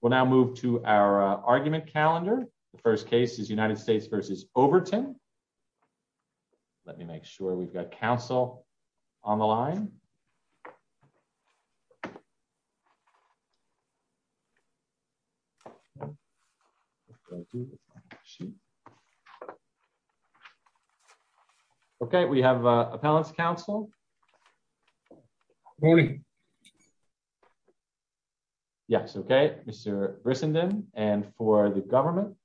We'll now move to our argument calendar. The first case is United States versus Overton. Let me make sure we've got counsel on the line. OK, we have appellate counsel. Morning. Yes. OK, Mr. Brissenden and for the government.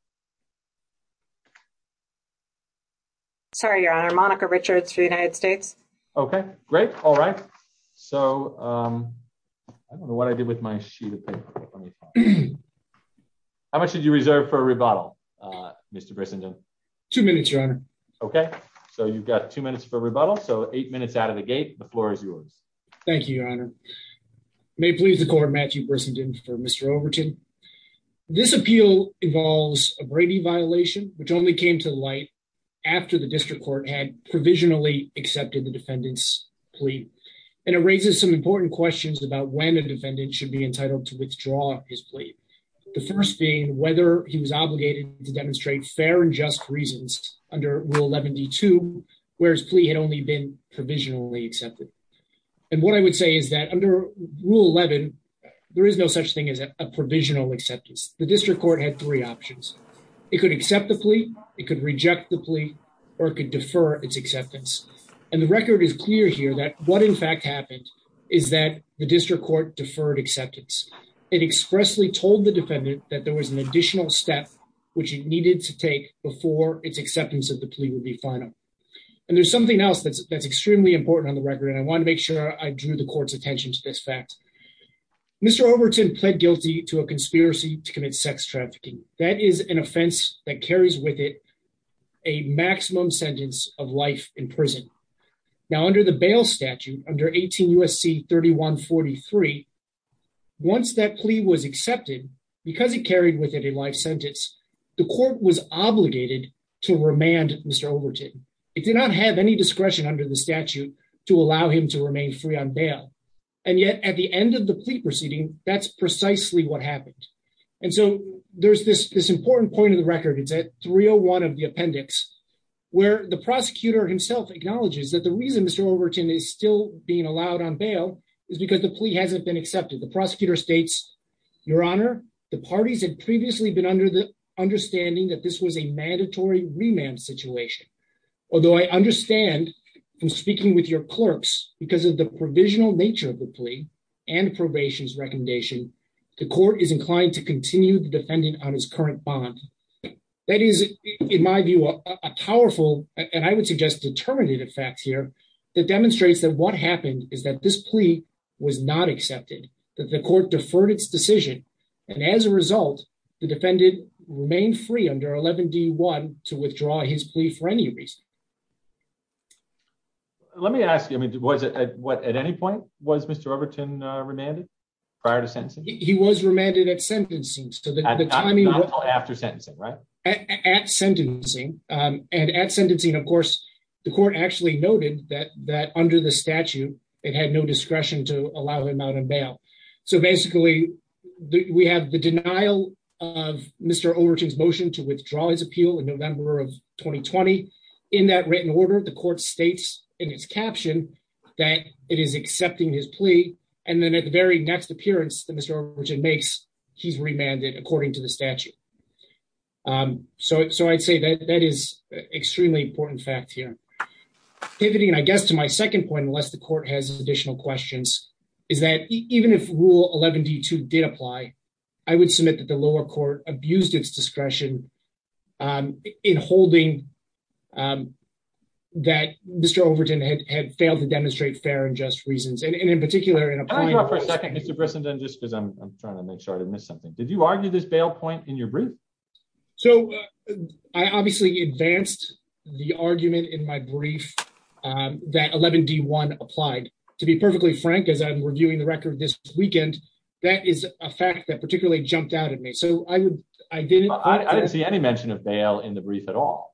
Sorry, your honor, Monica Richards for the United States. OK, great. All right. So I don't know what I did with my sheet of paper. How much did you reserve for a rebuttal, Mr. Brissenden? Two minutes, your honor. OK, so you've got two minutes for rebuttal. So eight minutes out of the gate, the floor is yours. Thank you, your honor. May it please the court, Matthew Brissenden for Mr. Overton. This appeal involves a Brady violation, which only came to light after the district court had provisionally accepted the defendant's plea. And it raises some important questions about when a defendant should be entitled to withdraw his plea. The first being whether he was obligated to demonstrate fair and just reasons under Rule 11 D2, whereas plea had only been provisionally accepted. And what I would say is that under Rule 11, there is no such thing as a provisional acceptance. The district court had three options. It could accept the plea, it could reject the plea, or it could defer its acceptance. And the record is clear here that what in fact happened is that the district court deferred acceptance. It expressly told the defendant that there was an additional step which it needed to take before its acceptance of the plea would be final. And there's something else that's extremely important on the record, and I want to make sure I drew the court's attention to this fact. Mr. Overton pled guilty to a conspiracy to commit sex trafficking. That is an offense that carries with it a maximum sentence of life in prison. Now under the bail statute, under 18 U.S.C. 3143, once that plea was accepted, because it carried with it a life sentence, the court was obligated to remand Mr. Overton. It did not have any discretion under the statute to allow him to remain free on bail. And yet at the end of the plea proceeding, that's precisely what happened. And so there's this important point in the record, it's at 301 of the appendix, where the prosecutor himself acknowledges that the reason Mr. Overton is still being allowed on bail is because the plea hasn't been accepted. The prosecutor states, Your Honor, the parties had previously been under the understanding that this was a mandatory remand situation. Although I understand from speaking with your clerks, because of the provisional nature of the plea and probation's recommendation, the court is inclined to continue the defendant on his current bond. That is, in my view, a powerful, and I would suggest determinative fact here, that demonstrates that what happened is that this plea was not accepted. That the court deferred its decision, and as a result, the defendant remained free under 11 D. 1 to withdraw his plea for any reason. Let me ask you, was it at any point was Mr. Overton remanded prior to sentencing? He was remanded at sentencing. Not until after sentencing, right? At sentencing. And at sentencing, of course, the court actually noted that under the statute, it had no discretion to allow him out on bail. So basically, we have the denial of Mr. Overton's motion to withdraw his appeal in November of 2020. In that written order, the court states in its caption that it is accepting his plea, and then at the very next appearance that Mr. Overton makes, he's remanded according to the statute. So I'd say that that is an extremely important fact here. Pivoting, I guess, to my second point, unless the court has additional questions, is that even if Rule 11 D. 2 did apply, I would submit that the lower court abused its discretion in holding that Mr. Overton had failed to demonstrate fair and just reasons. And in particular, in a point… Hold on for a second, Mr. Brissenden, just because I'm trying to make sure I didn't miss something. Did you argue this bail point in your brief? So I obviously advanced the argument in my brief that 11 D. 1 applied. To be perfectly frank, as I'm reviewing the record this weekend, that is a fact that particularly jumped out at me. So I didn't… I didn't see any mention of bail in the brief at all.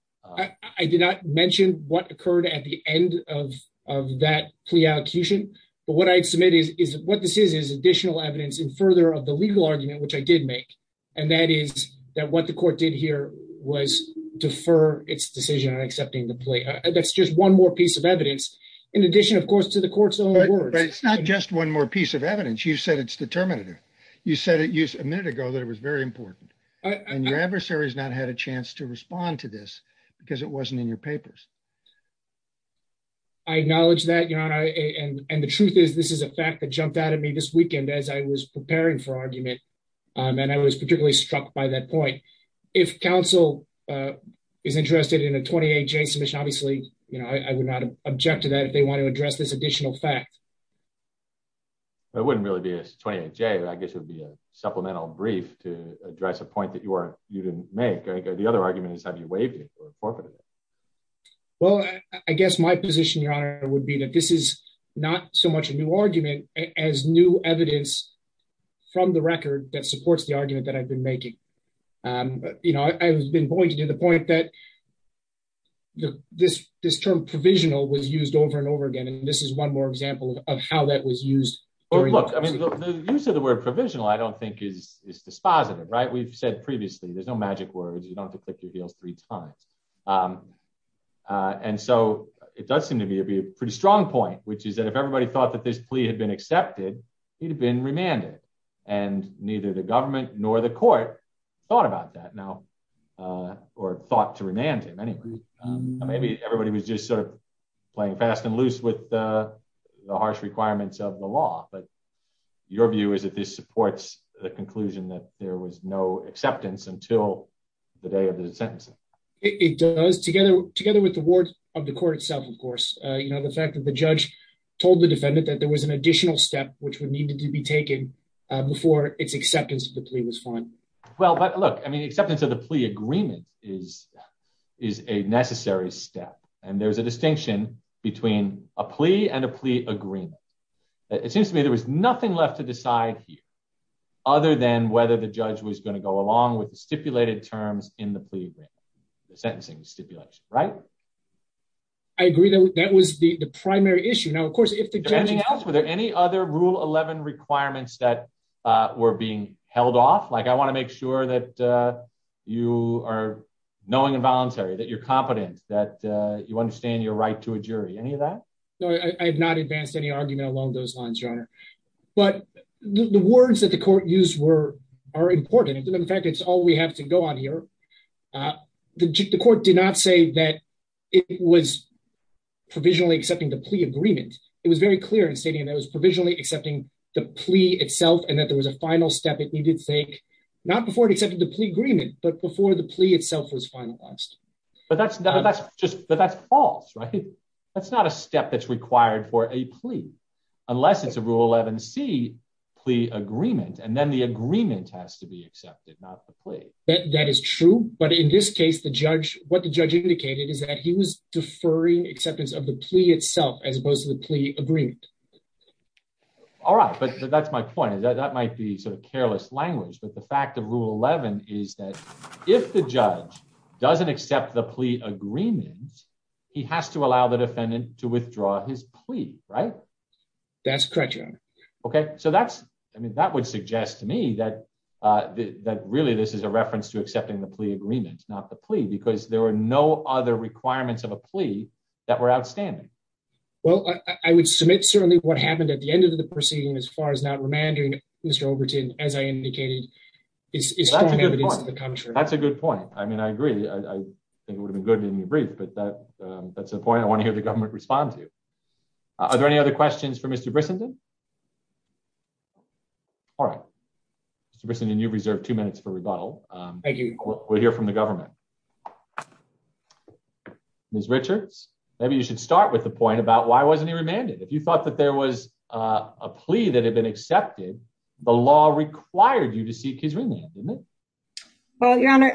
I did not mention what occurred at the end of that plea allocation, but what I'd submit is what this is is additional evidence in further of the legal argument, which I did make, and that is that what the court did here was defer its decision on accepting the plea. That's just one more piece of evidence, in addition, of course, to the court's own words. But it's not just one more piece of evidence. You said it's determinative. You said a minute ago that it was very important. And your adversary has not had a chance to respond to this because it wasn't in your papers. I acknowledge that, Your Honor, and the truth is this is a fact that jumped out at me this weekend as I was preparing for argument, and I was particularly struck by that point. If counsel is interested in a 28J submission, obviously, you know, I would not object to that if they want to address this additional fact. It wouldn't really be a 28J. I guess it would be a supplemental brief to address a point that you didn't make. The other argument is have you waived it or forfeited it. Well, I guess my position, Your Honor, would be that this is not so much a new argument as new evidence from the record that supports the argument that I've been making. You know, I've been pointing to the point that this term provisional was used over and over again, and this is one more example of how that was used. Well, look, I mean, the use of the word provisional, I don't think is dispositive, right? We've said previously, there's no magic words. You don't have to click your heels three times. And so it does seem to be a pretty strong point, which is that if everybody thought that this plea had been accepted, he'd have been remanded, and neither the government nor the court thought about that now, or thought to remand him anyway. Maybe everybody was just sort of playing fast and loose with the harsh requirements of the law, but your view is that this supports the conclusion that there was no acceptance until the day of the sentencing. It does, together with the words of the court itself, of course, you know, the fact that the judge told the defendant that there was an additional step which would need to be taken before its acceptance of the plea was fine. Well, but look, I mean, acceptance of the plea agreement is a necessary step, and there's a distinction between a plea and a plea agreement. It seems to me there was nothing left to decide here, other than whether the judge was going to go along with the stipulated terms in the plea agreement, the sentencing stipulation, right? I agree that that was the primary issue. Now, of course, if the judge... Anything else? Were there any other Rule 11 requirements that were being held off? Like, I want to make sure that you are knowing and voluntary, that you're competent, that you understand your right to a jury, any of that? No, I have not advanced any argument along those lines, Your Honor. But the words that the court used are important. In fact, it's all we have to go on here. The court did not say that it was provisionally accepting the plea agreement. It was very clear in stating that it was provisionally accepting the plea itself, and that there was a final step it needed to take, not before it accepted the plea agreement, but before the plea itself was finalized. But that's false, right? That's not a step that's required for a plea, unless it's a Rule 11c plea agreement, and then the agreement has to be accepted, not the plea. That is true. But in this case, what the judge indicated is that he was deferring acceptance of the plea itself, as opposed to the plea agreement. All right, but that's my point. That might be sort of careless language, but the fact of Rule 11 is that if the judge doesn't accept the plea agreement, he has to allow the defendant to withdraw his plea, right? That's correct, Your Honor. Okay, so that would suggest to me that really this is a reference to accepting the plea agreement, not the plea, because there were no other requirements of a plea that were outstanding. Well, I would submit certainly what happened at the end of the proceeding, as far as not remandering Mr. Overton, as I indicated, is strong evidence to the contrary. That's a good point. I mean, I agree. I think it would have been good to be brief, but that's the point I want to hear the government respond to. Are there any other questions for Mr. Brissenden? All right. Mr. Brissenden, you've reserved two minutes for rebuttal. We'll hear from the government. Ms. Richards, maybe you should start with the point about why wasn't he remanded. If you thought that there was a plea that had been accepted, the law required you to seek his remand, didn't it? Well, Your Honor,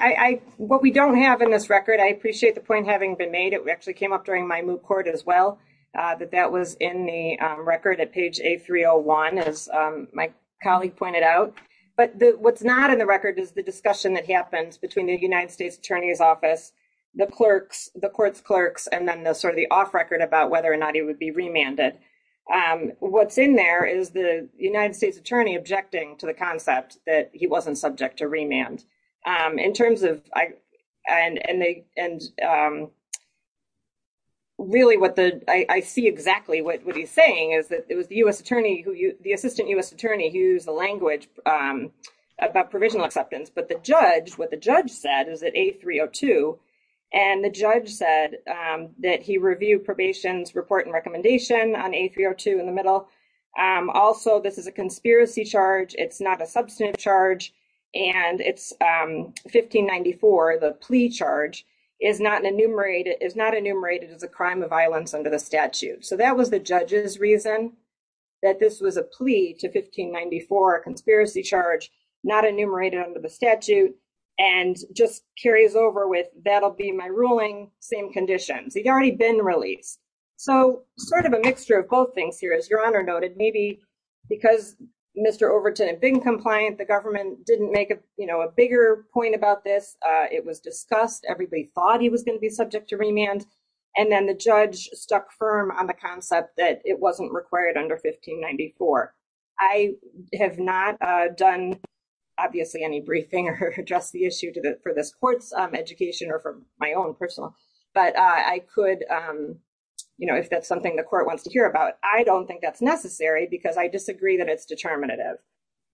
what we don't have in this record, I appreciate the point having been made, it actually came up during my moot court as well, that that was in the record at page A301, as my colleague pointed out. But what's not in the record is the discussion that happens between the United States Attorney's Office, the clerks, the court's clerks, and then the sort of the off record about whether or not he would be remanded. What's in there is the United States Attorney objecting to the concept that he wasn't subject to remand. I see exactly what he's saying is that it was the Assistant U.S. Attorney who used the language about provisional acceptance. But what the judge said is that A302, and the judge said that he reviewed probation's report and recommendation on A302 in the middle. Also, this is a conspiracy charge. It's not a substantive charge. And it's 1594, the plea charge, is not enumerated as a crime of violence under the statute. So that was the judge's reason that this was a plea to 1594, a conspiracy charge, not enumerated under the statute, and just carries over with, that'll be my ruling, same conditions. He'd already been released. So sort of a mixture of both things here. As Your Honor noted, maybe because Mr. Overton had been compliant, the government didn't make a bigger point about this. It was discussed. Everybody thought he was going to be subject to remand. And then the judge stuck firm on the concept that it wasn't required under 1594. I have not done, obviously, any briefing or addressed the issue for this court's education or for my own personal, but I could, if that's something the court wants to hear about, I don't think that's necessary because I disagree that it's determinative.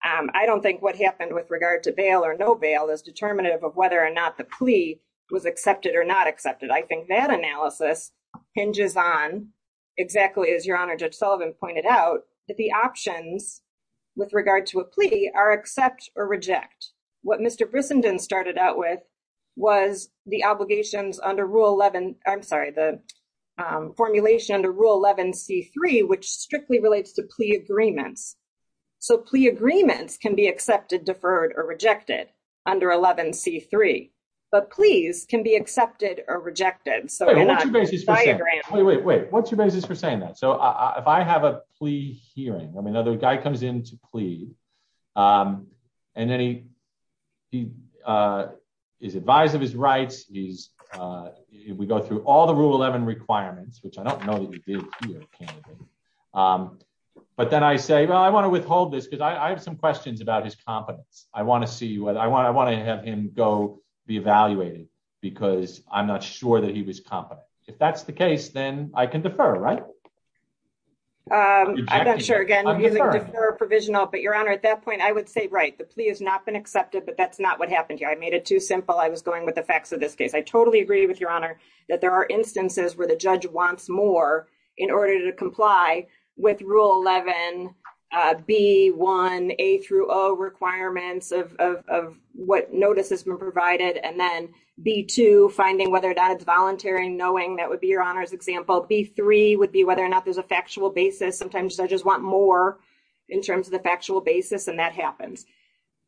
I don't think what happened with regard to bail or no bail is determinative of whether or not the plea was accepted or not accepted. I think that analysis hinges on exactly as Your Honor Judge Sullivan pointed out, that the options with regard to a plea are accept or reject. What Mr. Brissenden started out with was the obligations under Rule 11, I'm sorry, the formulation under Rule 11C3, which strictly relates to plea agreements. So plea agreements can be accepted, deferred, or rejected under 11C3, but pleas can be accepted or rejected. Wait, wait, wait. What's your basis for saying that? So if I have a plea hearing, I mean, another guy comes in to plea, and then he is advised of his rights, we go through all the Rule 11 requirements, which I don't know that he did here, candidly. But then I say, well, I want to withhold this because I have some questions about his competence. I want to see whether, I want to have him go be evaluated because I'm not sure that he was competent. If that's the case, then I can defer, right? I'm not sure again, defer or provisional, but Your Honor, at that point, I would say, right, the plea has not been accepted, but that's not what happened here. I made it too simple. I was going with the facts of this case. I totally agree with Your Honor that there are instances where the judge wants more in order to comply with Rule 11, B1, A through O requirements of what notice has been provided. And then B2, finding whether or not it's voluntary, knowing that would be Your Honor's example. B3 would be whether or not there's a factual basis. Sometimes judges want more in terms of the factual basis, and that happens.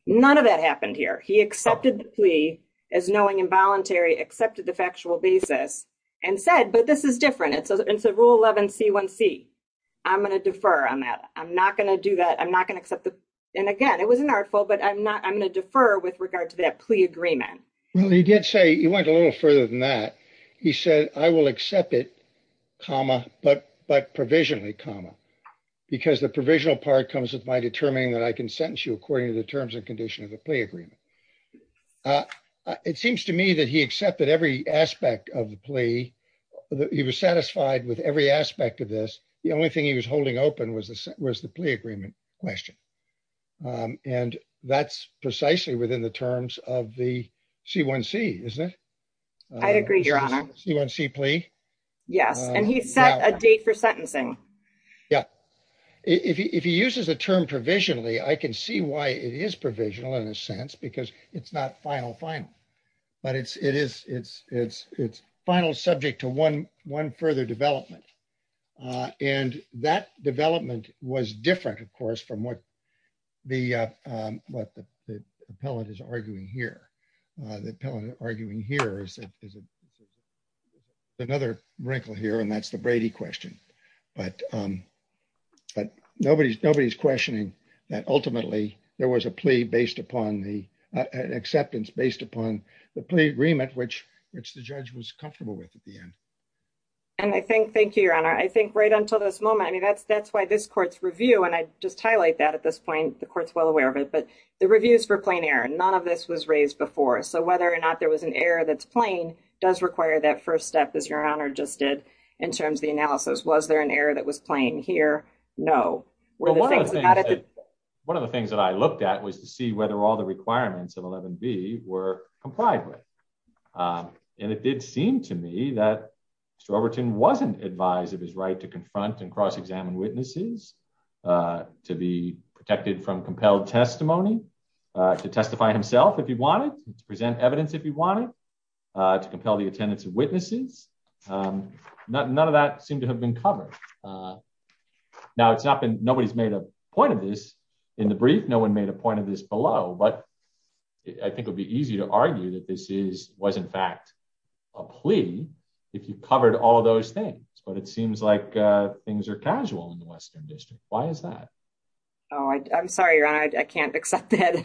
None of that happened here. He accepted the plea as knowing involuntary, accepted the factual basis, and said, but this is different. It's a Rule 11, C1C. I'm going to defer on that. I'm not going to do that. I'm not going to accept the, and again, it was an artful, but I'm not, I'm going to defer with regard to that plea agreement. Well, he did say, he went a little further than that. He said, I will accept it, comma, but provisionally, comma, because the provisional part comes with my determining that I can sentence you according to the terms and conditions of the plea agreement. It seems to me that he accepted every aspect of the plea. He was satisfied with every aspect of this. The only thing he was holding open was the plea agreement question. And that's precisely within the terms of the C1C, isn't it? I agree, Your Honor. C1C plea? Yes, and he set a date for sentencing. Yeah. If he uses the term provisionally, I can see why it is provisional in a sense, because it's not final, final. But it's, it is, it's, it's, it's final subject to one, one further development. And that development was different, of course, from what the, what the appellate is arguing here. The appellate arguing here is another wrinkle here, and that's the Brady question. But, but nobody's, nobody's questioning that ultimately there was a plea based upon the acceptance based upon the plea agreement, which, which the judge was comfortable with at the end. And I think, thank you, Your Honor, I think right until this moment, I mean, that's, that's why this court's review, and I just highlight that at this point, the court's well aware of it, but the reviews for plain error, none of this was raised before. So, whether or not there was an error that's plain does require that first step, as Your Honor just did, in terms of the analysis. Was there an error that was plain here? No. One of the things that I looked at was to see whether all the requirements of 11B were complied with. And it did seem to me that Mr. Overton wasn't advised of his right to confront and cross examine witnesses, to be protected from compelled testimony, to testify himself if he wanted, to present evidence if he wanted, to compel the attendance of witnesses. None of that seemed to have been covered. Now it's not been, nobody's made a point of this in the brief, no one made a point of this below, but I think it'd be easy to argue that this is, was in fact, a plea, if you covered all those things, but it seems like things are casual in the Western District. Why is that? Oh, I'm sorry, Your Honor, I can't accept that.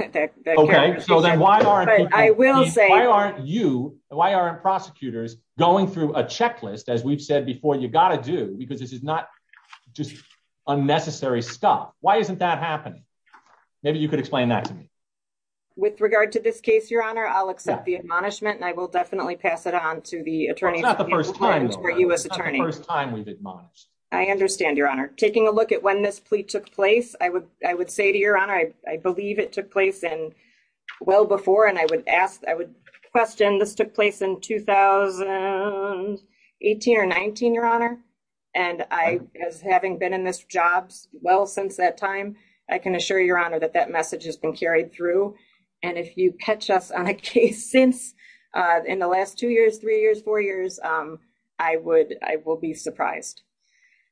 Okay, so then why aren't you, why aren't prosecutors going through a checklist, as we've said before, you've got to do, because this is not just unnecessary stuff. Why isn't that happening? Maybe you could explain that to me. With regard to this case, Your Honor, I'll accept the admonishment and I will definitely pass it on to the attorney. It's not the first time though, right? It's not the first time we've admonished. I understand, Your Honor. Taking a look at when this plea took place, I would say to Your Honor, I believe it took place in, well before, and I would ask, I would question this took place in 2018 or 19, Your Honor. And I, as having been in this job well since that time, I can assure Your Honor that that message has been carried through. And if you catch us on a case since, in the last two years, three years, four years, I would, I will be surprised.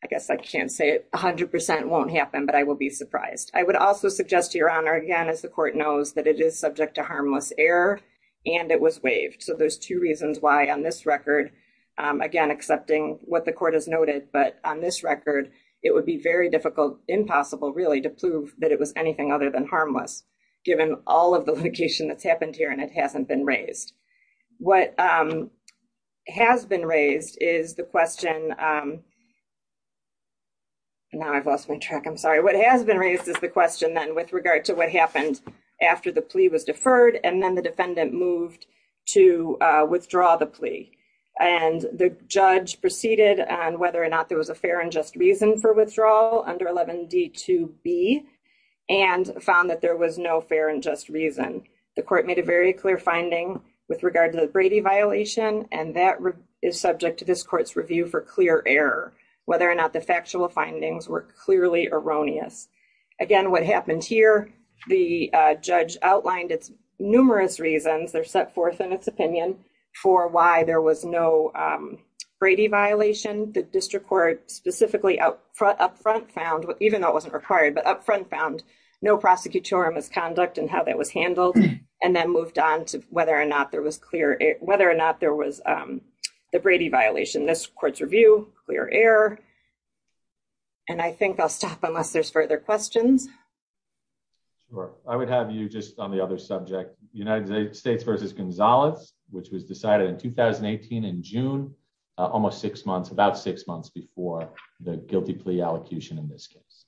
I guess I can't say it 100% won't happen, but I will be surprised. I would also suggest to Your Honor, again, as the court knows, that it is subject to harmless error and it was waived. So there's two reasons why on this record, again, accepting what the court has noted, but on this record, it would be very difficult, impossible, really, to prove that it was anything other than harmless, given all of the litigation that's happened here and it hasn't been raised. What has been raised is the question, now I've lost my track, I'm sorry. What has been raised is the question then with regard to what happened after the plea was deferred and then the defendant moved to withdraw the plea. And the judge proceeded on whether or not there was a fair and just reason for withdrawal under 11D2B and found that there was no fair and just reason. The court made a very clear finding with regard to the Brady violation and that is subject to this court's review for clear error, whether or not the factual findings were clearly erroneous. Again, what happened here, the judge outlined its numerous reasons, they're set forth in its opinion, for why there was no Brady violation. The district court specifically up front found, even though it wasn't required, but up front found no prosecutorial misconduct and how that was handled and then moved on to whether or not there was clear, whether or not there was the Brady violation. And I think I'll stop unless there's further questions. I would have you just on the other subject, United States versus Gonzalez, which was decided in 2018 in June, almost six months, about six months before the guilty plea allocution in this case.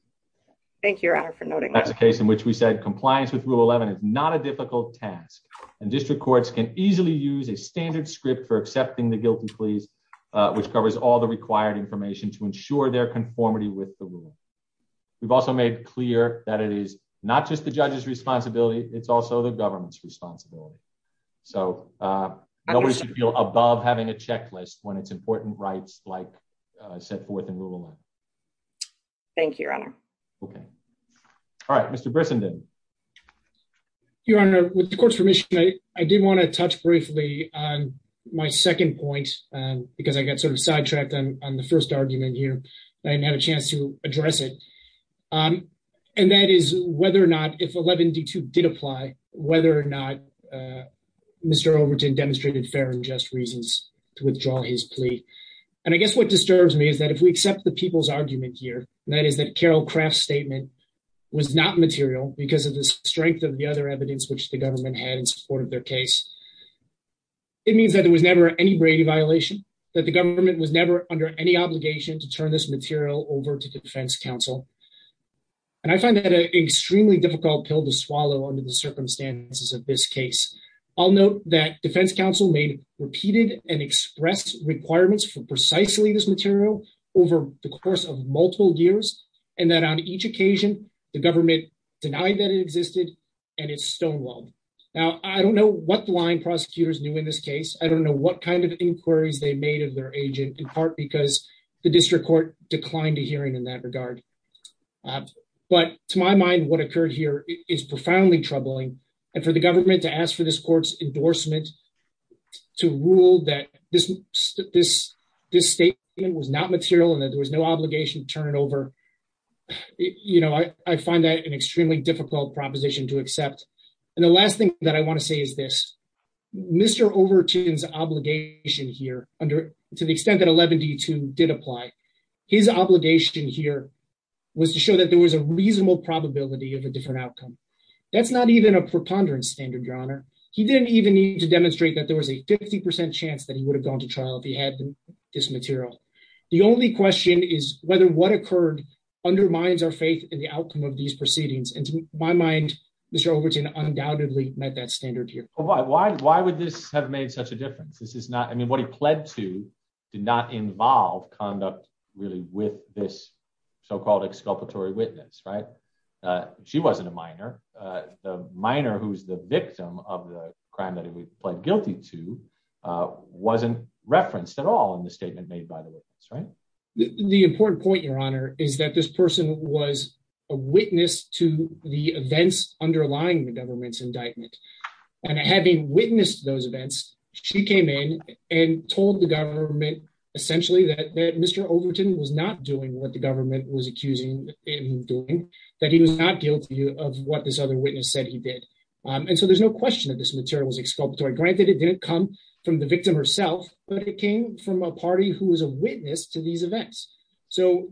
Thank you, Your Honor, for noting that. That's the case in which we said compliance with Rule 11 is not a difficult task and district courts can easily use a standard script for accepting the guilty pleas, which covers all the required information to ensure their conformity with the rule. We've also made clear that it is not just the judge's responsibility, it's also the government's responsibility. So, nobody should feel above having a checklist when it's important rights like set forth in Rule 11. Thank you, Your Honor. Okay. All right, Mr. Brissenden. Your Honor, with the court's permission, I did want to touch briefly on my second point, because I got sort of sidetracked on the first argument here. I didn't have a chance to address it. And that is whether or not if 11D2 did apply, whether or not Mr. Overton demonstrated fair and just reasons to withdraw his plea. And I guess what disturbs me is that if we accept the people's argument here, that is that Carol Craft's statement was not material because of the strength of the other evidence which the government had in support of their case. It means that there was never any Brady violation, that the government was never under any obligation to turn this material over to Defense Counsel. And I find that an extremely difficult pill to swallow under the circumstances of this case. I'll note that Defense Counsel made repeated and expressed requirements for precisely this material over the course of multiple years, and that on each occasion, the government denied that it existed, and it stonewalled. Now, I don't know what the line prosecutors knew in this case. I don't know what kind of inquiries they made of their agent, in part because the district court declined a hearing in that regard. But to my mind, what occurred here is profoundly troubling. And for the government to ask for this court's endorsement to rule that this statement was not material and that there was no obligation to turn it over, you know, I find that an extremely difficult proposition to accept. And the last thing that I want to say is this. Mr. Overton's obligation here, to the extent that 11D2 did apply, his obligation here was to show that there was a reasonable probability of a different outcome. That's not even a preponderance standard, Your Honor. He didn't even need to demonstrate that there was a 50% chance that he would have gone to trial if he had this material. The only question is whether what occurred undermines our faith in the outcome of these proceedings. And to my mind, Mr. Overton undoubtedly met that standard here. Why would this have made such a difference? I mean, what he pled to did not involve conduct really with this so-called exculpatory witness, right? She wasn't a minor. The minor who's the victim of the crime that he pled guilty to wasn't referenced at all in the statement made by the witness, right? The important point, Your Honor, is that this person was a witness to the events underlying the government's indictment. And having witnessed those events, she came in and told the government essentially that Mr. Overton was not doing what the government was accusing him of doing, that he was not guilty of what this other witness said he did. And so there's no question that this material was exculpatory. Granted, it didn't come from the victim herself, but it came from a party who was a witness to these events. So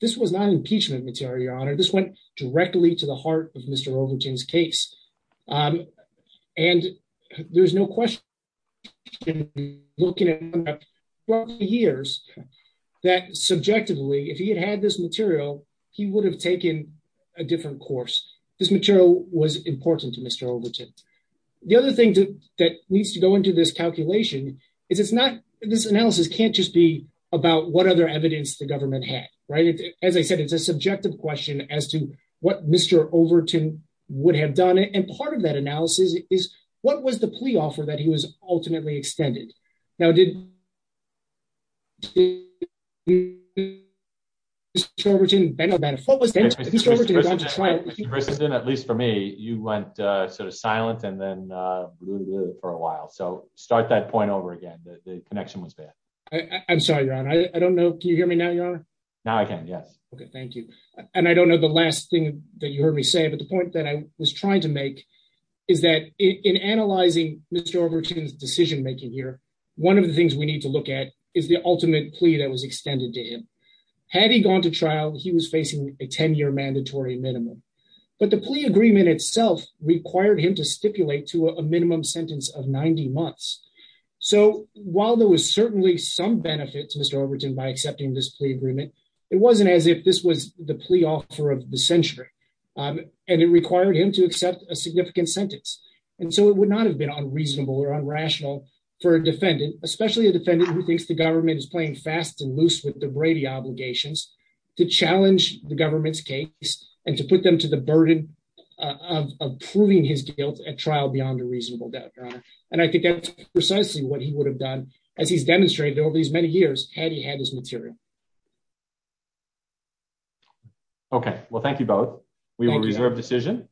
this was not impeachment material, Your Honor. This went directly to the heart of Mr. Overton's case. And there's no question in looking at 12 years that subjectively, if he had had this material, he would have taken a different course. This material was important to Mr. Overton. The other thing that needs to go into this calculation is this analysis can't just be about what other evidence the government had, right? As I said, it's a subjective question as to what Mr. Overton would have done. And part of that analysis is what was the plea offer that he was ultimately extended? Now, did Mr. Overton benefit from this? Mr. Brisson, at least for me, you went sort of silent and then for a while. So start that point over again. The connection was bad. I'm sorry, Your Honor. I don't know. Can you hear me now, Your Honor? Now I can. Yes. OK, thank you. And I don't know the last thing that you heard me say. But the point that I was trying to make is that in analyzing Mr. Overton's decision making here, one of the things we need to look at is the ultimate plea that was extended to him. Had he gone to trial, he was facing a 10 year mandatory minimum. But the plea agreement itself required him to stipulate to a minimum sentence of 90 months. So while there was certainly some benefits, Mr. Overton, by accepting this plea agreement, it wasn't as if this was the plea offer of the century. And it required him to accept a significant sentence. And so it would not have been unreasonable or unrational for a defendant, especially a defendant who thinks the government is playing fast and loose with the Brady obligations, to challenge the government's case and to put them to the burden of proving his guilt at trial beyond a reasonable doubt. And I think that's precisely what he would have done as he's demonstrated over these many years had he had this material. OK, well, thank you both. We will reserve decision.